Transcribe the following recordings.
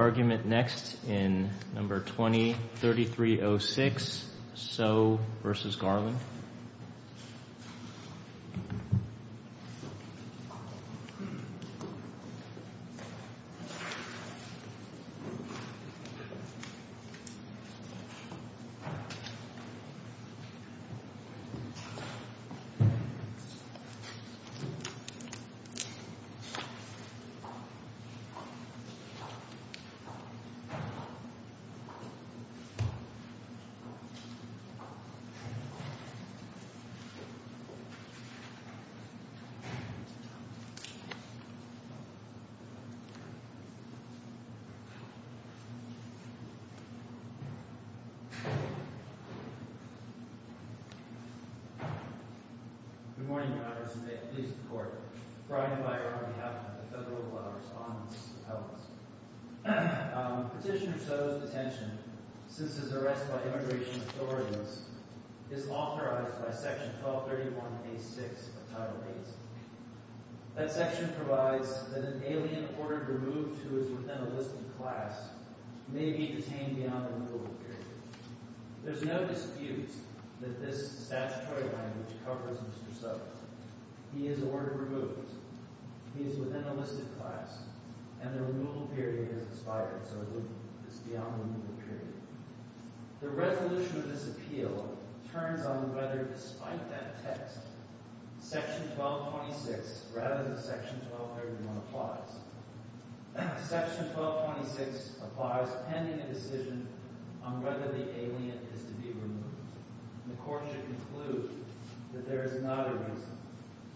argument next in number twenty thirty three oh six so versus Garland argument next in number twenty three oh six so versus Garland argument next in number So, Petitioner So's detention since his arrest by immigration authorities is authorized by section twelve thirty one a six of title eight. That section provides that an alien ordered removed who is within a listed class may be detained beyond the removal period. There's no dispute that this statutory language covers Mr. So. He is ordered removed, he is within the removal period. The resolution of this appeal turns on whether despite that text section twelve twenty six rather than section twelve thirty one applies. Section twelve twenty six applies pending a decision on whether the alien is to be removed. The court should conclude that there is not a reason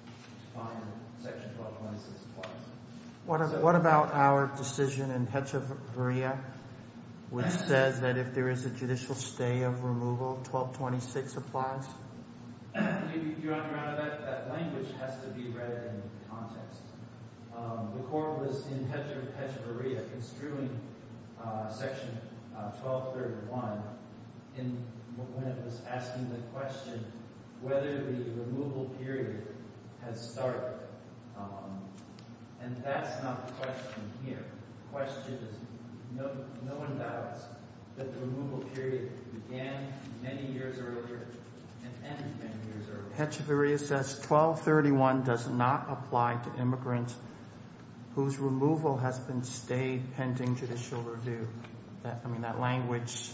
to find section twelve twenty six applies. What about our decision in which says that if there is a judicial stay of removal, twelve twenty six applies? Your Honor, that language has to be read in context. The court was in construing section twelve thirty one when it was asking the question whether the removal period has started. And that's not the question here. The question is, no one doubts that the removal period began many years earlier and ended many years earlier. Hetcheverry says twelve thirty one does not apply to immigrants whose removal has been stayed pending judicial review. I mean, that language,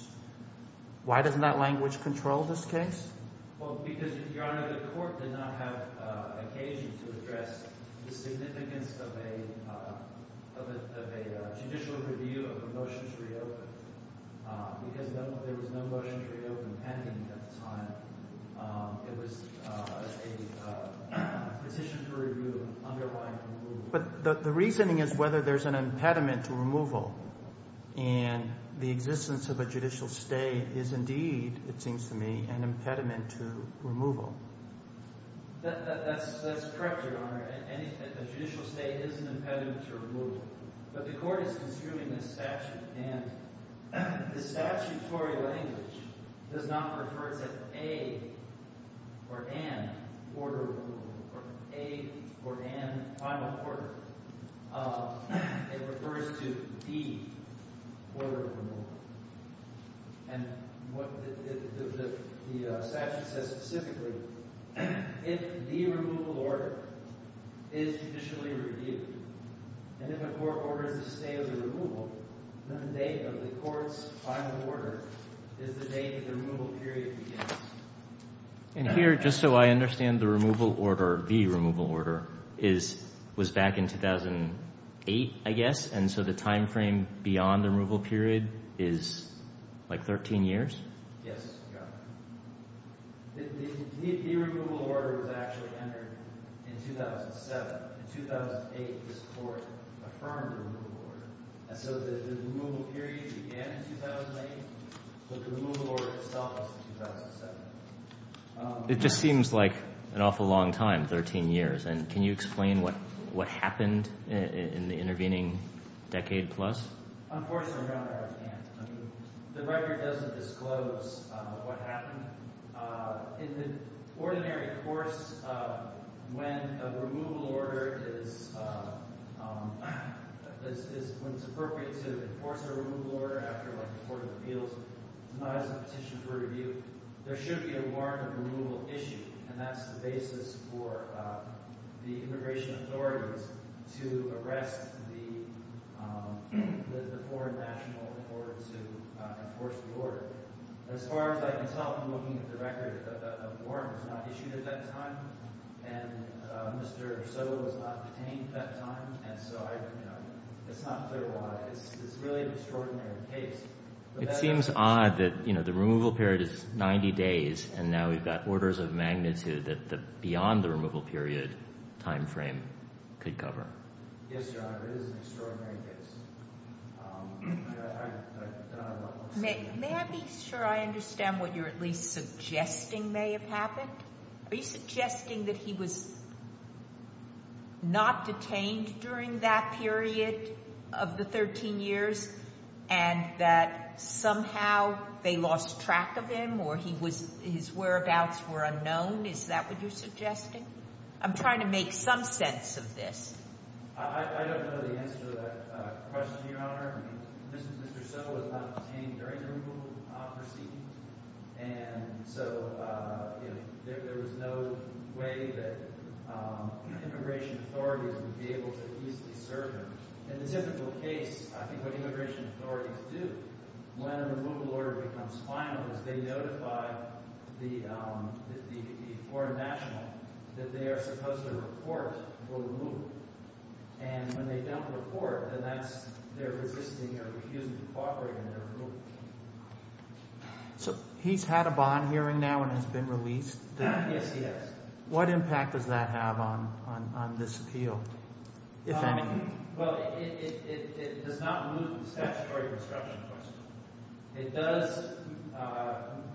why doesn't that language control this case? Well, because, Your Honor, the court did not have occasion to address the significance of a judicial review of a motion to reopen because there was no motion to reopen pending at the time. It was a petition to review an underlying removal. But the reasoning is whether there's an impediment to removal and the existence of a judicial stay is indeed, it seems to me, an impediment to removal. That's correct, Your Honor. A judicial stay is an impediment to removal. But the court is construing a statute and the statutory language does not refer to a or an order or a or an final order. It refers to the order of removal. And what the statute says specifically, if the removal order is judicially reviewed and if a court orders the stay of the removal, then the date of the court's final order is the date the removal period begins. And here, just so I understand, the removal order, the removal order, is, was back in 2008, I guess, and so the time frame beyond the removal period is like thirteen years? Yes, Your Honor. The removal order was actually entered in 2007. In 2008, this court affirmed the removal order. And so the removal period began in 2008, but the removal order itself was in 2007. It just seems like an awful long time, thirteen years. And can you explain what happened in the intervening decade plus? Unfortunately, Your Honor, I can't. I mean, the record doesn't disclose what happened. In the ordinary course, when a removal order is, when it's appropriate to enforce a removal order after like a court of appeals, it's not as a petition for review. There should be a warrant of removal issued, and that's the basis for the immigration authorities to arrest the foreign national in order to enforce the order. As far as I can tell from looking at the record, a warrant was not issued at that time, and Mr. Soto was not detained at that time, and so I, you know, it's not clear why. It's really an extraordinary case. It seems odd that, you know, the removal period is 90 days, and now we've got orders of magnitude that beyond the removal period time frame could cover. Yes, Your Honor, it is an extraordinary case. May I be sure I understand what you're at least suggesting may have happened? Are you suggesting that he was not detained during that period of the 13 years and that somehow they lost track of him or he was, his whereabouts were unknown? Is that what you're suggesting? I'm trying to make some sense of this. I don't know the answer to that question, Your Honor. Mr. Soto was not detained during the removal proceedings, and so, you know, there was no way that immigration authorities would be able to easily serve him. In the typical case, I think what immigration authorities do when a removal order becomes final is they notify the foreign national that they are supposed to report for removal, and when they don't report, then that's their resisting or refusing to cooperate in their removal. So he's had a bond hearing now and has been released? Yes, he has. What impact does that have on this appeal, if any? Well, it does not remove the statutory obstruction question. It does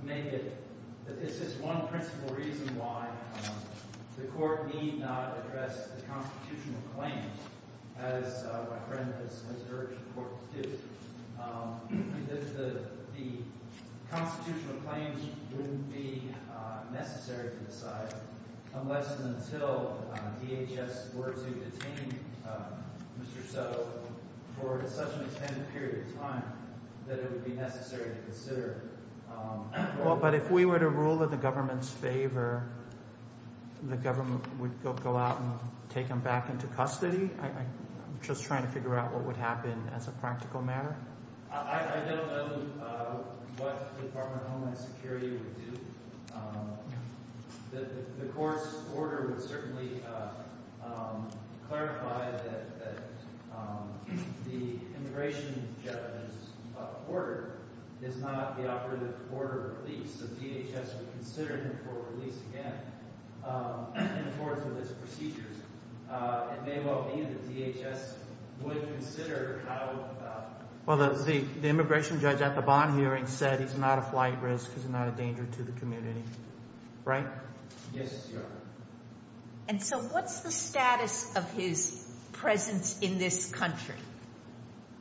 make it, it's just one principle reason why the court need not address the constitutional claims as my friend has urged the court to do. The constitutional claims wouldn't be necessary to decide unless and until DHS were to detain Mr. Soto for such an extended period of time that it would be necessary to consider But if we were to rule in the government's favor, the government would go out and take him back into custody? I'm just trying to figure out what would happen as a practical matter. I don't know what the Department of Homeland Security would do. The court's order would certainly clarify that the immigration judge's order is not the operative order of release, so DHS would consider him for release again in accordance with his procedures. It may well be that DHS would consider how... Well, the immigration judge at the bond hearing said he's not a flight risk, he's not a danger to the community. Right? Yes, Your Honor. And so what's the status of his presence in this country?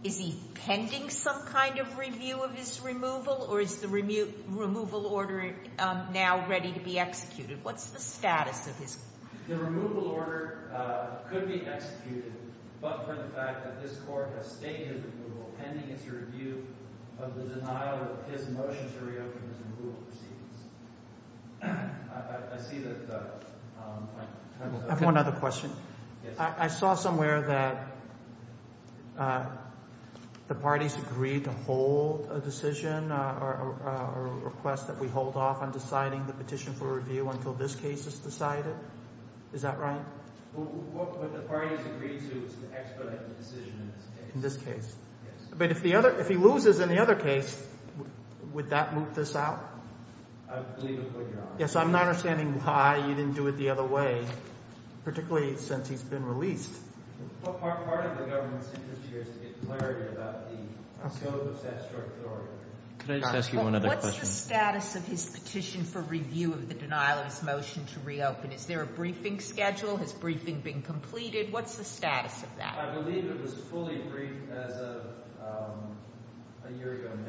Is he pending some kind of review of his removal, or is the removal order now ready to be executed? What's the status of his... The removal order could be executed, but for the fact that this court has stated removal pending its review of the denial of his motion to reopen his removal proceedings. I see that... I have one other question. I saw somewhere that the parties agreed to hold a decision or a request that we hold off on deciding the petition for review until this case is decided. Is that right? Well, what the parties agreed to is an expedited decision in this case. In this case? Yes. But if he loses in the other case, would that move this out? I believe it would, Your Honor. Yes, I'm not understanding why you didn't do it the other way, particularly since he's been released. Well, part of the government's interest here is to get clarity about the scope of statutory authority. Can I just ask you one other question? What's the status of his petition for review of the denial of his motion to reopen? Is there a briefing schedule? Has briefing been completed? What's the status of that? I believe it was fully briefed as of a year ago in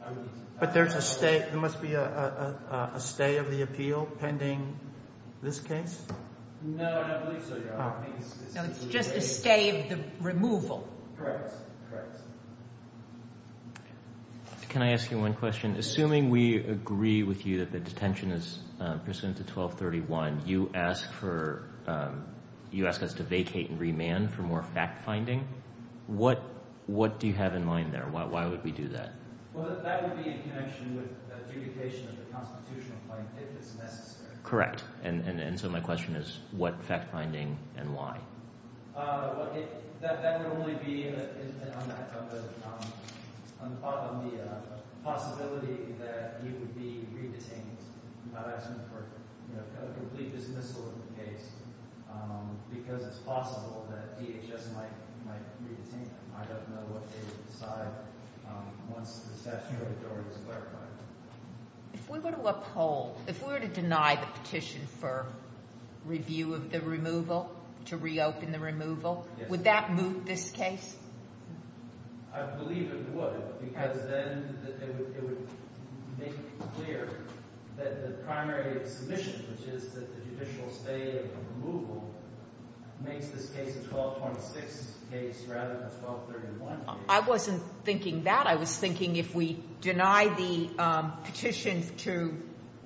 May. But there's a stay, there must be a stay of the appeal pending this case? No, I don't believe so, Your Honor. No, it's just a stay of the removal. Correct, correct. Can I ask you one question? Assuming we agree with you that the detention is pursuant to 1231, you ask us to vacate and remand for more fact finding. What do you have in mind there? Why would we do that? Well, that would be in connection with the adjudication of the constitutional claim, if it's necessary. Correct. And so my question is what fact finding and why? That would only be on top of the possibility that he would be re-detained without asking for a complete dismissal of the case because it's possible that DHS might re-detain him. I don't know what they would decide once the If we were to uphold, if we were to deny the petition for review of the removal, to reopen the removal, would that move this case? I believe it would because then it would make clear that the primary submission, which is that the judicial stay of removal, makes this case a 1226 case rather than a 1231 case. I wasn't thinking that. I was thinking if we deny the petition to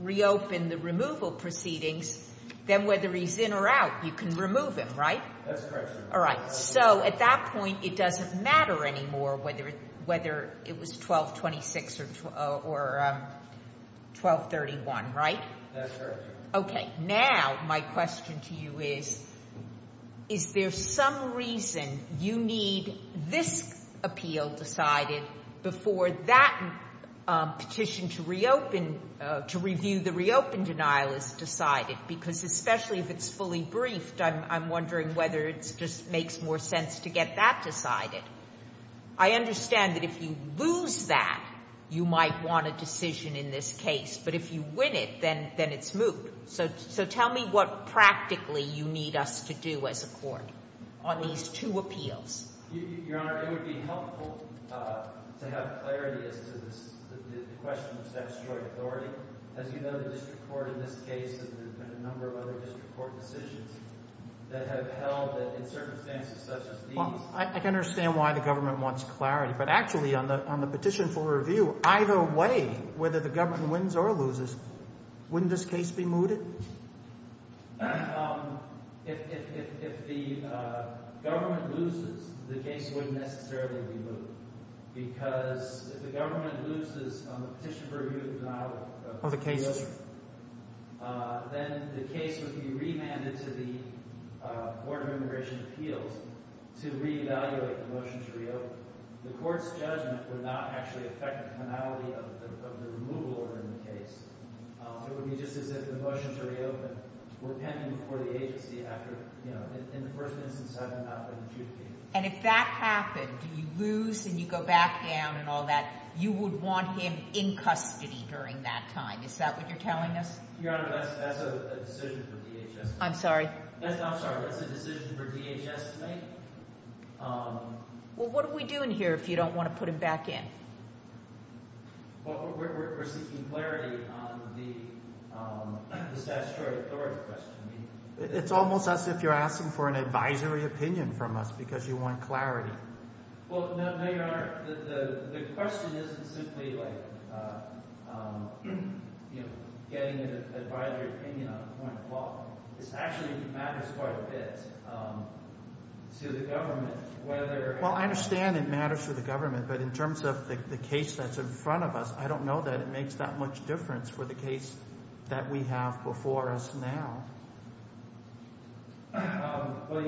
reopen the removal proceedings, then whether he's in or out, you can remove him, right? That's correct, Your Honor. All right. So at that point, it doesn't matter anymore whether it was 1226 or 1231, right? That's correct, Your Honor. Okay. Now my question to you is, is there some reason you need this appeal decided before that petition to reopen, to review the reopen denial is decided? Because especially if it's fully briefed, I'm wondering whether it just makes more sense to get that decided. I understand that if you lose that, you might want a decision in this case, but if you win it, then it's moved. So tell me what practically you need us to do as a court on these two appeals. Your Honor, it would be helpful to have clarity as to the question of statutory authority. As you know, the district court in this case and a number of other district court decisions that have held that in circumstances such as these Well, I can understand why the government wants clarity, but actually on the petition for review, either way, whether the government wins or loses, wouldn't this case be mooted? If the government loses, the case wouldn't necessarily be mooted. Because if the government loses on the petition for review denial of the case, then the case would be remanded to the Board of Immigration Appeals to reevaluate the motion to reopen. The court's judgment would not actually affect the finality of the removal order in the case. It would be just as if the motion to reopen were pending before the agency after, you know, in the first instance, having not been adjudicated. And if that happened, you lose and you go back down and all that, you would want him in custody during that time. Is that what you're telling us? Your Honor, that's a decision for DHS. I'm sorry? I'm sorry, that's a decision for DHS to make? Well, what are we doing here if you don't want to put him back in? Well, we're seeking clarity on the statutory authority question. It's almost as if you're asking for an advisory opinion from us because you want clarity. Well, no, Your Honor, the question isn't simply like, you know, getting an advisory opinion on a point of law. It is to the government whether... Well, I understand it matters to the government, but in terms of the case that's in front of us, I don't know that it makes that much difference for the case that we have before us now. Well,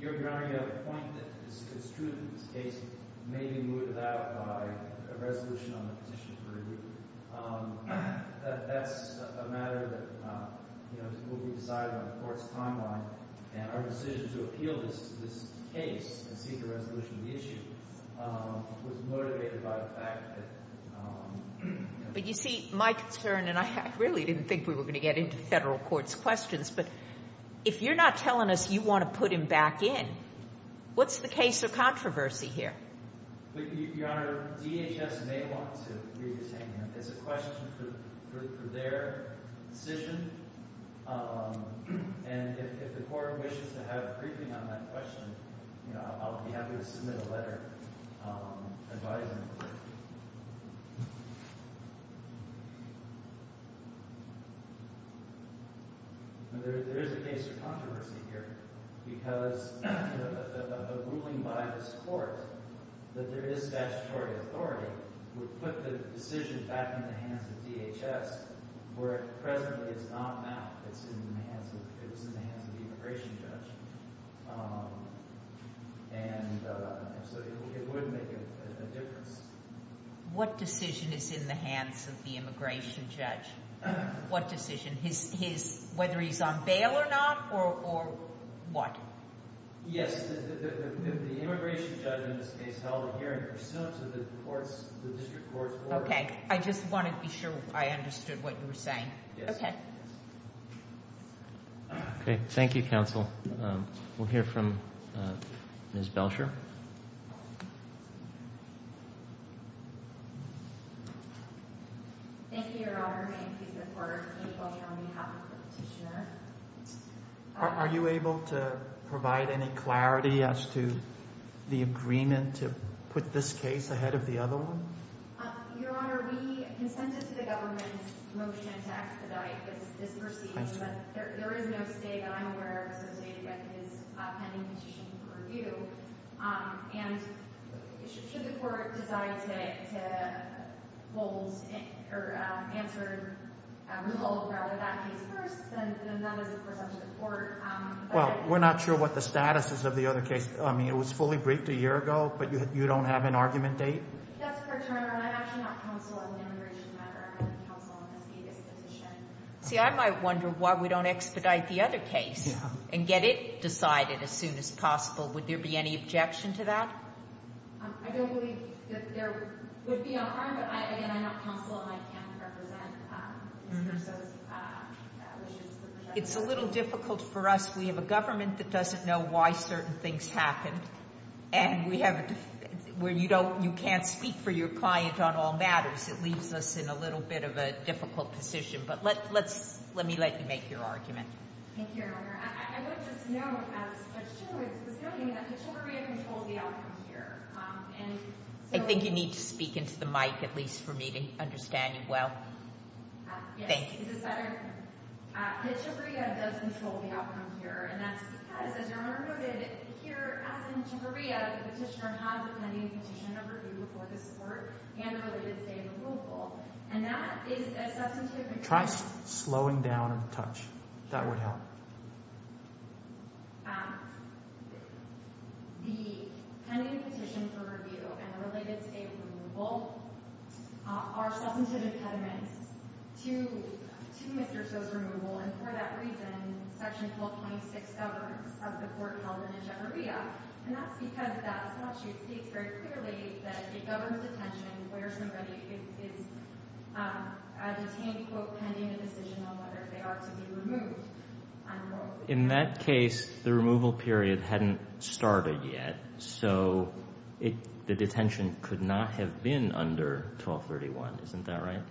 Your Honor, you have a point that is construed in this case may be moved about by a resolution on the petition for review. That's a matter that will be decided on the court's timeline, and our decision to appeal this case and seek a resolution to the issue was motivated by the fact that... But you see, my concern, and I really didn't think we were going to get into the federal court's questions, but if you're not telling us you want to put him back in, what's the case of controversy here? Your Honor, DHS may want to re-detain him. It's a question for their decision, and if the court wishes to have a briefing on that question, you know, I'll be happy to submit a letter advising the court. There is a case of controversy here, because a ruling by this court that there is statutory authority would put the decision back in the hands of DHS, where presently it's not now. It's in the hands of the immigration judge, and so it would make a difference. What decision is in the hands of the immigration judge? What decision? Whether he's on bail or not, or what? Yes, the immigration judge in this case held a hearing pursuant to the district court's order. Okay, I just wanted to be sure I understood what you were saying. Okay. Okay, thank you, counsel. We'll hear from Ms. Belcher. Thank you, Your Honor. May it please the court, I'm April Young on behalf of the petitioner. Are you able to provide any clarity as to the agreement to put this case ahead of the other one? Your Honor, we consented to the government's motion to expedite this proceeding, but there is no state that I'm aware of associated with this pending petition for review. And should the court decide to answer a rule about that case first, then that is, of course, up to the court. Well, we're not sure what the status is of the other case. I mean, it was fully briefed a year ago, but you don't have an argument date? That's correct, Your Honor. I'm actually not counsel on the immigration matter. I'm counsel on this biggest petition. See, I might wonder why we don't expedite the other case and get it decided as soon as possible. Would there be any objection to that? I don't believe that there would be a harm, but again, I'm not counsel and I can't represent Mr. Soto's wishes. It's a little difficult for us. We have a government that doesn't know why certain things happened, and you can't speak for your client on all matters. It leaves us in a little bit of a difficult position, but let me let you make your argument. Thank you, Your Honor. I would just note that the Chiviria does control the outcome here. I think you need to speak into the mic, at least for me to understand you well. Yes, the Chiviria does control the outcome here, and that's because, as Your Honor noted, here, as in Chiviria, the petitioner has a pending petition of review before this Court and a related stay of removal, and that is a substantive impediment to Mr. Soto's removal, and for that reason, Section 1226 governs of the Court held in Chiviria, and that's because that statute states very clearly that it governs detention where somebody is detained, quote, pending a decision on whether they ought to be removed, unquote. In that case, the removal period hadn't started yet, so the detention could not have been under 1231. Isn't that right?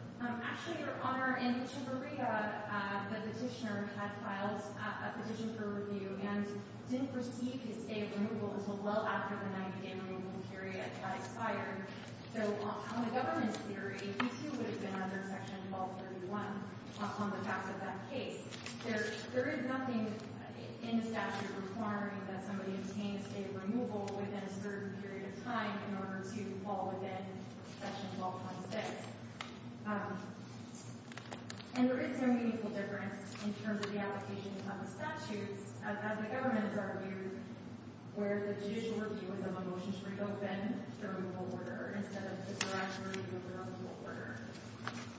Actually, Your Honor, in Chiviria, the petitioner had filed a petition for review and didn't receive his stay of removal until well after the 90-day removal period had expired, so on the government's theory, he too would have been under Section 1231 on the fact of that case. There is nothing in the statute requiring that somebody obtain a stay of removal within a certain period of time in order to fall within Section 1226. And there is no meaningful difference in terms of the application of the statute, as the government has argued, where the judicial review is on a motion to reopen the removal order instead of the derisory removal order.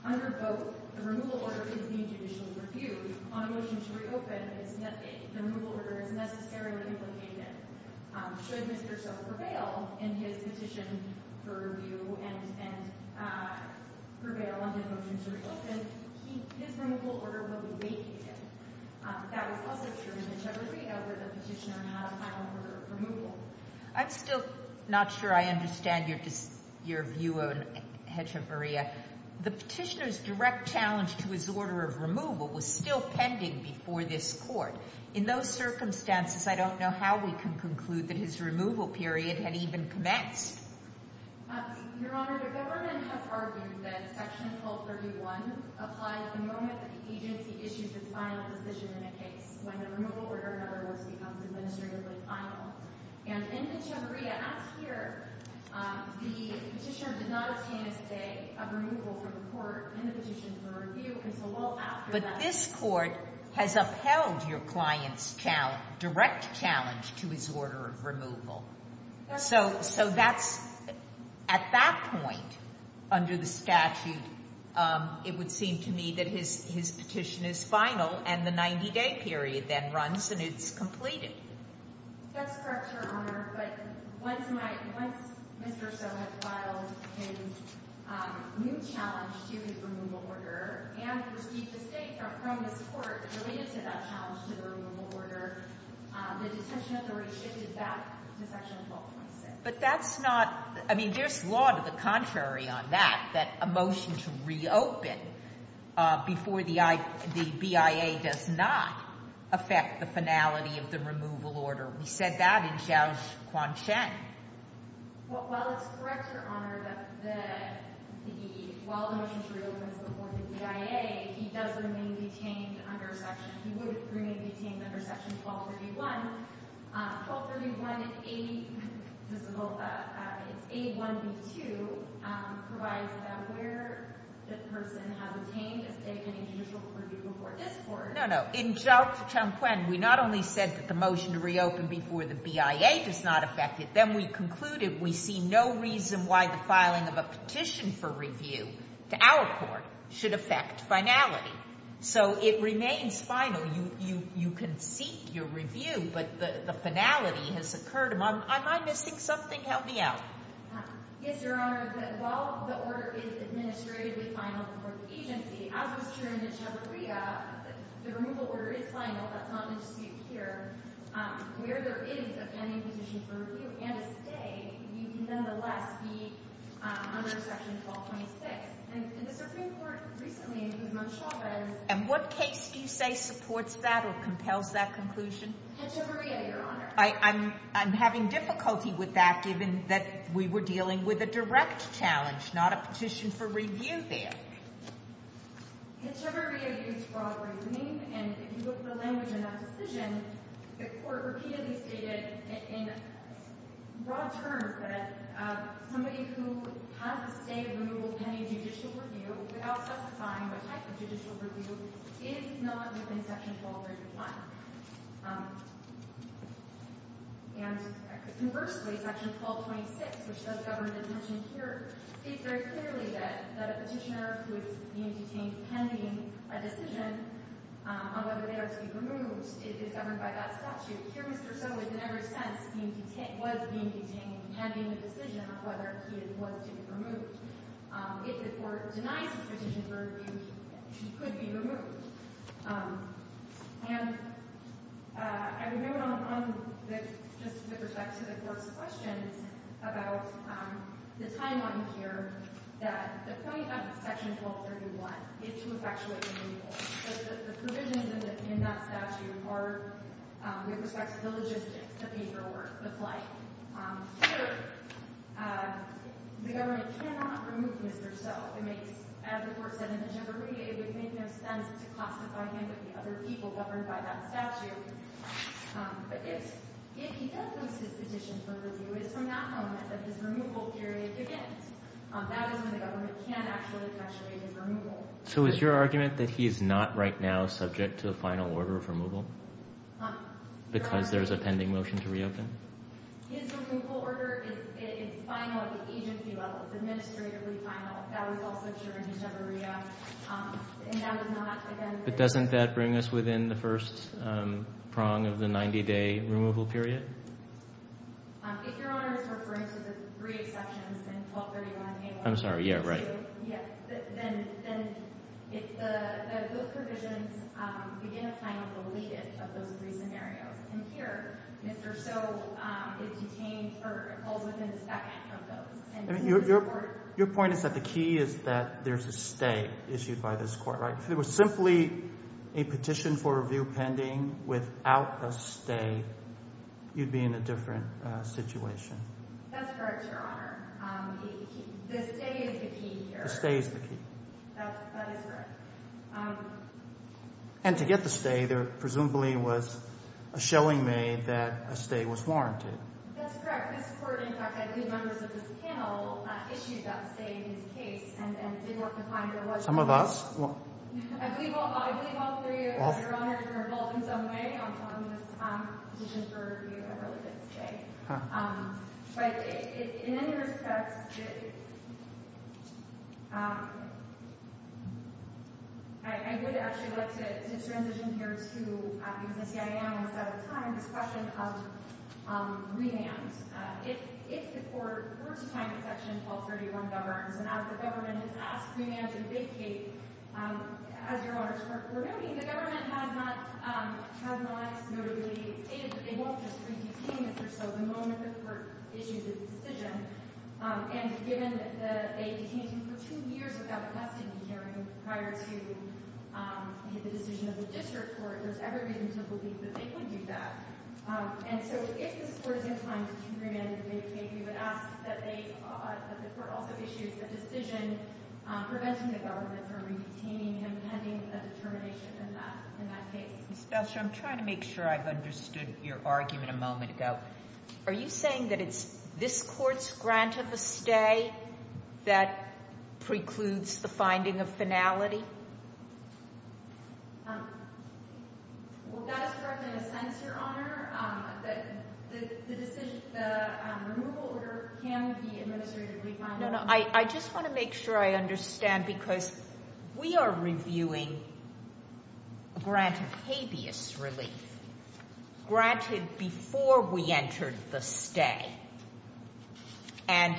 Under both, the removal order is being judicially reviewed. On a motion to reopen, the removal order is necessarily implicated. Should Mr. So prevail in his petition for review and prevail on his motion to reopen, his removal order would be vacated. That was also true in Chiviria, where the petitioner had filed for removal. I'm still not sure I understand your view on Chiviria. The petitioner's direct challenge to his order of removal was still pending before this Court. In those circumstances, I don't know how we can conclude that his removal period had even commenced. Your Honor, the government has argued that Section 1231 applies the moment that the agency issues its final decision in a case, when the removal order, in other words, becomes administratively final. And in the Chiviria act here, the petitioner did not obtain a stay of removal from the Court in the petition for review. But this Court has upheld your client's direct challenge to his order of removal. So, at that point, under the statute, it would seem to me that his petition is final and the 90-day period then runs and it's completed. That's correct, Your Honor. But once Mr. So has filed his new challenge to his removal order and received a stay from this Court related to that challenge to the removal order, the detention authority shifted back to Section 1226. But that's not, I mean, there's law to the contrary on that, that a motion to reopen before the BIA does not affect the finality of the removal order. We said that in Xiaochuan Chen. Well, it's correct, Your Honor, that while the motion to reopen is before the BIA, he does remain detained under Section, he would remain detained under Section 1231. 1231A, it's A1B2, provides that where the person has obtained a stay and a judicial review before this Court. No, no. In Xiaochuan Chen, we not only said that the motion to reopen before the BIA does not affect it, then we concluded we see no reason why the filing of a petition for review to our Court should affect finality. So it remains final. You can seek your review, but the finality has occurred. Am I missing something? Help me out. Yes, Your Honor. Your Honor, while the order is administratively final for the agency, as was true in Echevarria, the removal order is final. That's not in dispute here. Where there is a pending petition for review and a stay, you can nonetheless be under Section 1226. And the Supreme Court recently included in Chavez. And what case do you say supports that or compels that conclusion? Echevarria, Your Honor. I'm having difficulty with that given that we were dealing with a direct challenge, not a petition for review there. Echevarria is broad reasoning. And if you look at the language in that decision, the Court repeatedly stated in broad terms that somebody who has a stay of removal pending judicial review without specifying what type of judicial review is not within Section 1231. And conversely, Section 1226, which does govern detention here, states very clearly that a petitioner who is being detained pending a decision on whether they are to be removed is governed by that statute. Here Mr. So is, in every sense, was being detained pending a decision on whether he was to be removed. If the Court denies the petition for review, he could be removed. And I would note on just with respect to the Court's question about the timeline here that the point of Section 1231 is to effectuate the removal. So the provisions in that statute are with respect to the logistics, the paperwork, the flight. Here the government cannot remove Mr. So. It makes, as the Court said in Echevarria, it would make no sense to classify him of the other people governed by that statute. But if he does lose his petition for review, it is from that moment that his removal period begins. That is when the government can actually effectuate his removal. So is your argument that he is not right now subject to a final order of removal because there is a pending motion to reopen? His removal order is final at the agency level. It's administratively final. That was also true in Echevarria. But doesn't that bring us within the first prong of the 90-day removal period? If Your Honor is referring to the three exceptions in 1231A1. I'm sorry, yeah, right. Then if those provisions begin a final deletion of those three scenarios, and here Mr. So is detained or holds within a second of those. Your point is that the key is that there's a stay issued by this Court, right? If it was simply a petition for review pending without a stay, you'd be in a different situation. That's correct, Your Honor. The stay is the key here. The stay is the key. That is correct. And to get the stay, there presumably was a showing made that a stay was warranted. That's correct. This Court, in fact, I believe members of this panel issued that stay in his case and did work to find where it was. Some of us. I believe all three of you, Your Honor, can revolt in some way on this petition for review that related to stay. But in any respect, I would actually like to transition here to, because I see I am out of time, this question of remand. If the Court were to find that Section 1231 governs, and as the government has asked remand and vacate, as Your Honor's Court stated that they won't just re-detain Mr. So the moment the Court issues a decision. And given that they detained him for two years without a custody hearing prior to the decision of the district court, there's every reason to believe that they could do that. And so if this Court is inclined to remand and vacate, we would ask that the Court also issues a decision preventing the government from re-detaining him pending a determination in that case. Ms. Besser, I'm trying to make sure I've understood your argument a moment ago. Are you saying that it's this Court's grant of a stay that precludes the finding of finality? Well, that is correct in a sense, Your Honor. The decision, the removal order can be administratively finalized. I just want to make sure I understand because we are reviewing a grant of habeas relief, granted before we entered the stay. And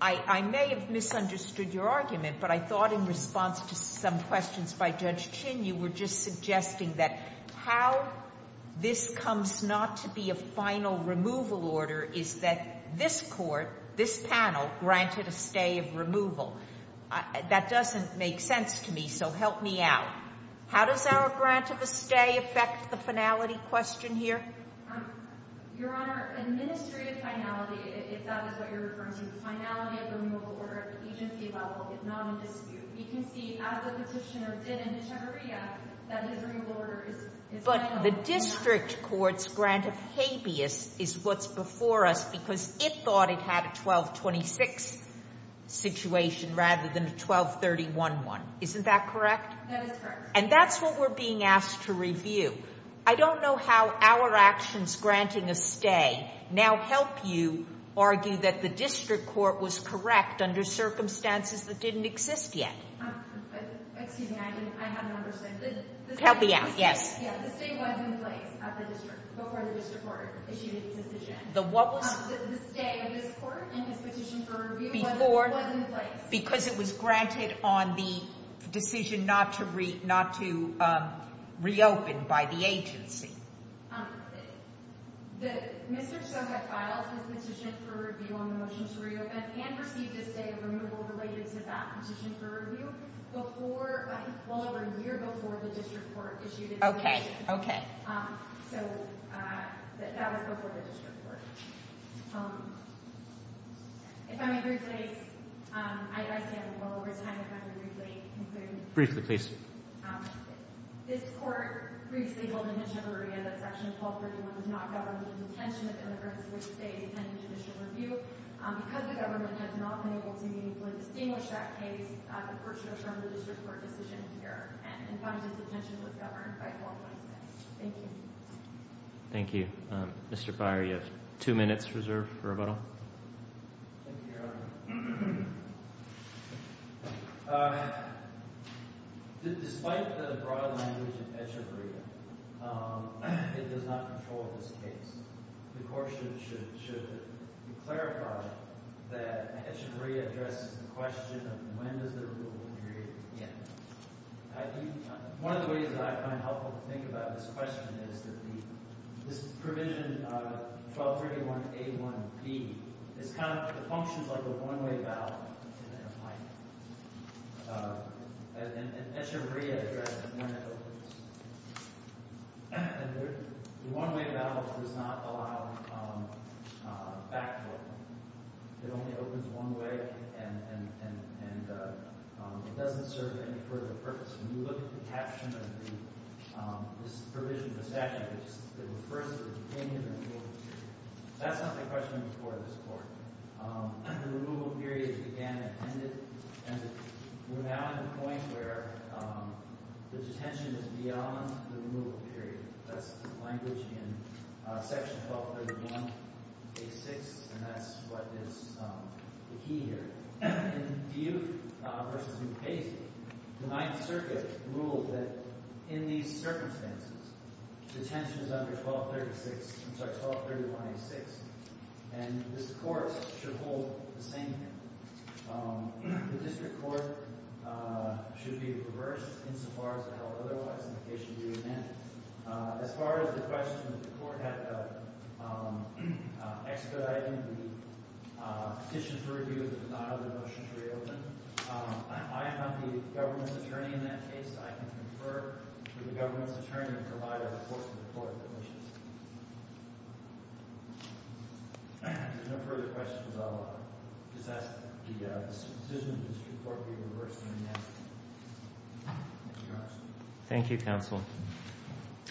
I may have misunderstood your argument, but I thought in response to some questions by Judge Chin, you were just suggesting that how this comes not to be a final removal order is that this Court, this panel, granted a stay of removal. That doesn't make sense to me, so help me out. How does our grant of a stay affect the finality question here? Your Honor, administrative finality, if that is what you're referring to, the finality of the removal order at the agency level is not in dispute. We can see as the petitioner did in the chamberea that his removal order is final. But the district court's grant of habeas is what's before us because it thought it had a 1226 situation rather than a 1231 one. Isn't that correct? That is correct. And that's what we're being asked to review. I don't know how our actions granting a stay now help you argue that the district court was correct under circumstances that didn't exist yet. Excuse me, I haven't understood. Help me out. Yes. The stay was in place at the district before the district court issued its decision. The what was? The stay of this Court and its petition for review was in place. Because it was granted on the decision not to reopen by the agency. Mr. Soka filed his petition for review on the motion to reopen and received a stay of removal related to that petition for review well over a year before the district court issued its decision. Okay. So that was before the district court. If I may rephrase, I stand well over time if I may rephrase. Briefly, please. This Court previously held in the chamberea that Section 1231 did not govern the intention of immigrants with a stay pending judicial review. Because the government has not been able to meaningfully distinguish that case, the Court should return to the district court decision here and find that the petition was governed by a qualified stay. Thank you. Thank you. Mr. Byer, you have two minutes reserved for rebuttal. Thank you, Your Honor. Despite the broad language in the chamberea, it does not control this case. The Court should clarify that the chamberea addresses the question of when does the removal period begin. One of the ways that I find helpful to think about this question is that this provision, 1231A1B, functions like a one-way ballot. And the chamberea addresses when that opens. And the one-way ballot does not allow a backdoor. It only opens one way, and it doesn't serve any further purpose. When you look at the caption of this provision, the statute, it refers to the detention and removal period. That's not the question before this Court. The removal period began and ended, and we're now at a point where the detention is beyond the removal period. That's the language in Section 1231A6, and that's what is the key here. In Duke v. Duke-Payson, the Ninth Circuit ruled that in these circumstances, detention is under 1231A6. And this Court should hold the same view. The District Court should be reversed insofar as it held otherwise in the case you just mentioned. As far as the question that the Court had expedited the petition for review that did not have the motion to reopen, I am not the government's attorney in that case. I can confer to the government's attorney and provide a report to the Court of Deletions. If there are no further questions, I'll just ask that the decision of the District Court be reversed immediately. Thank you, Your Honor. Thank you, Counsel.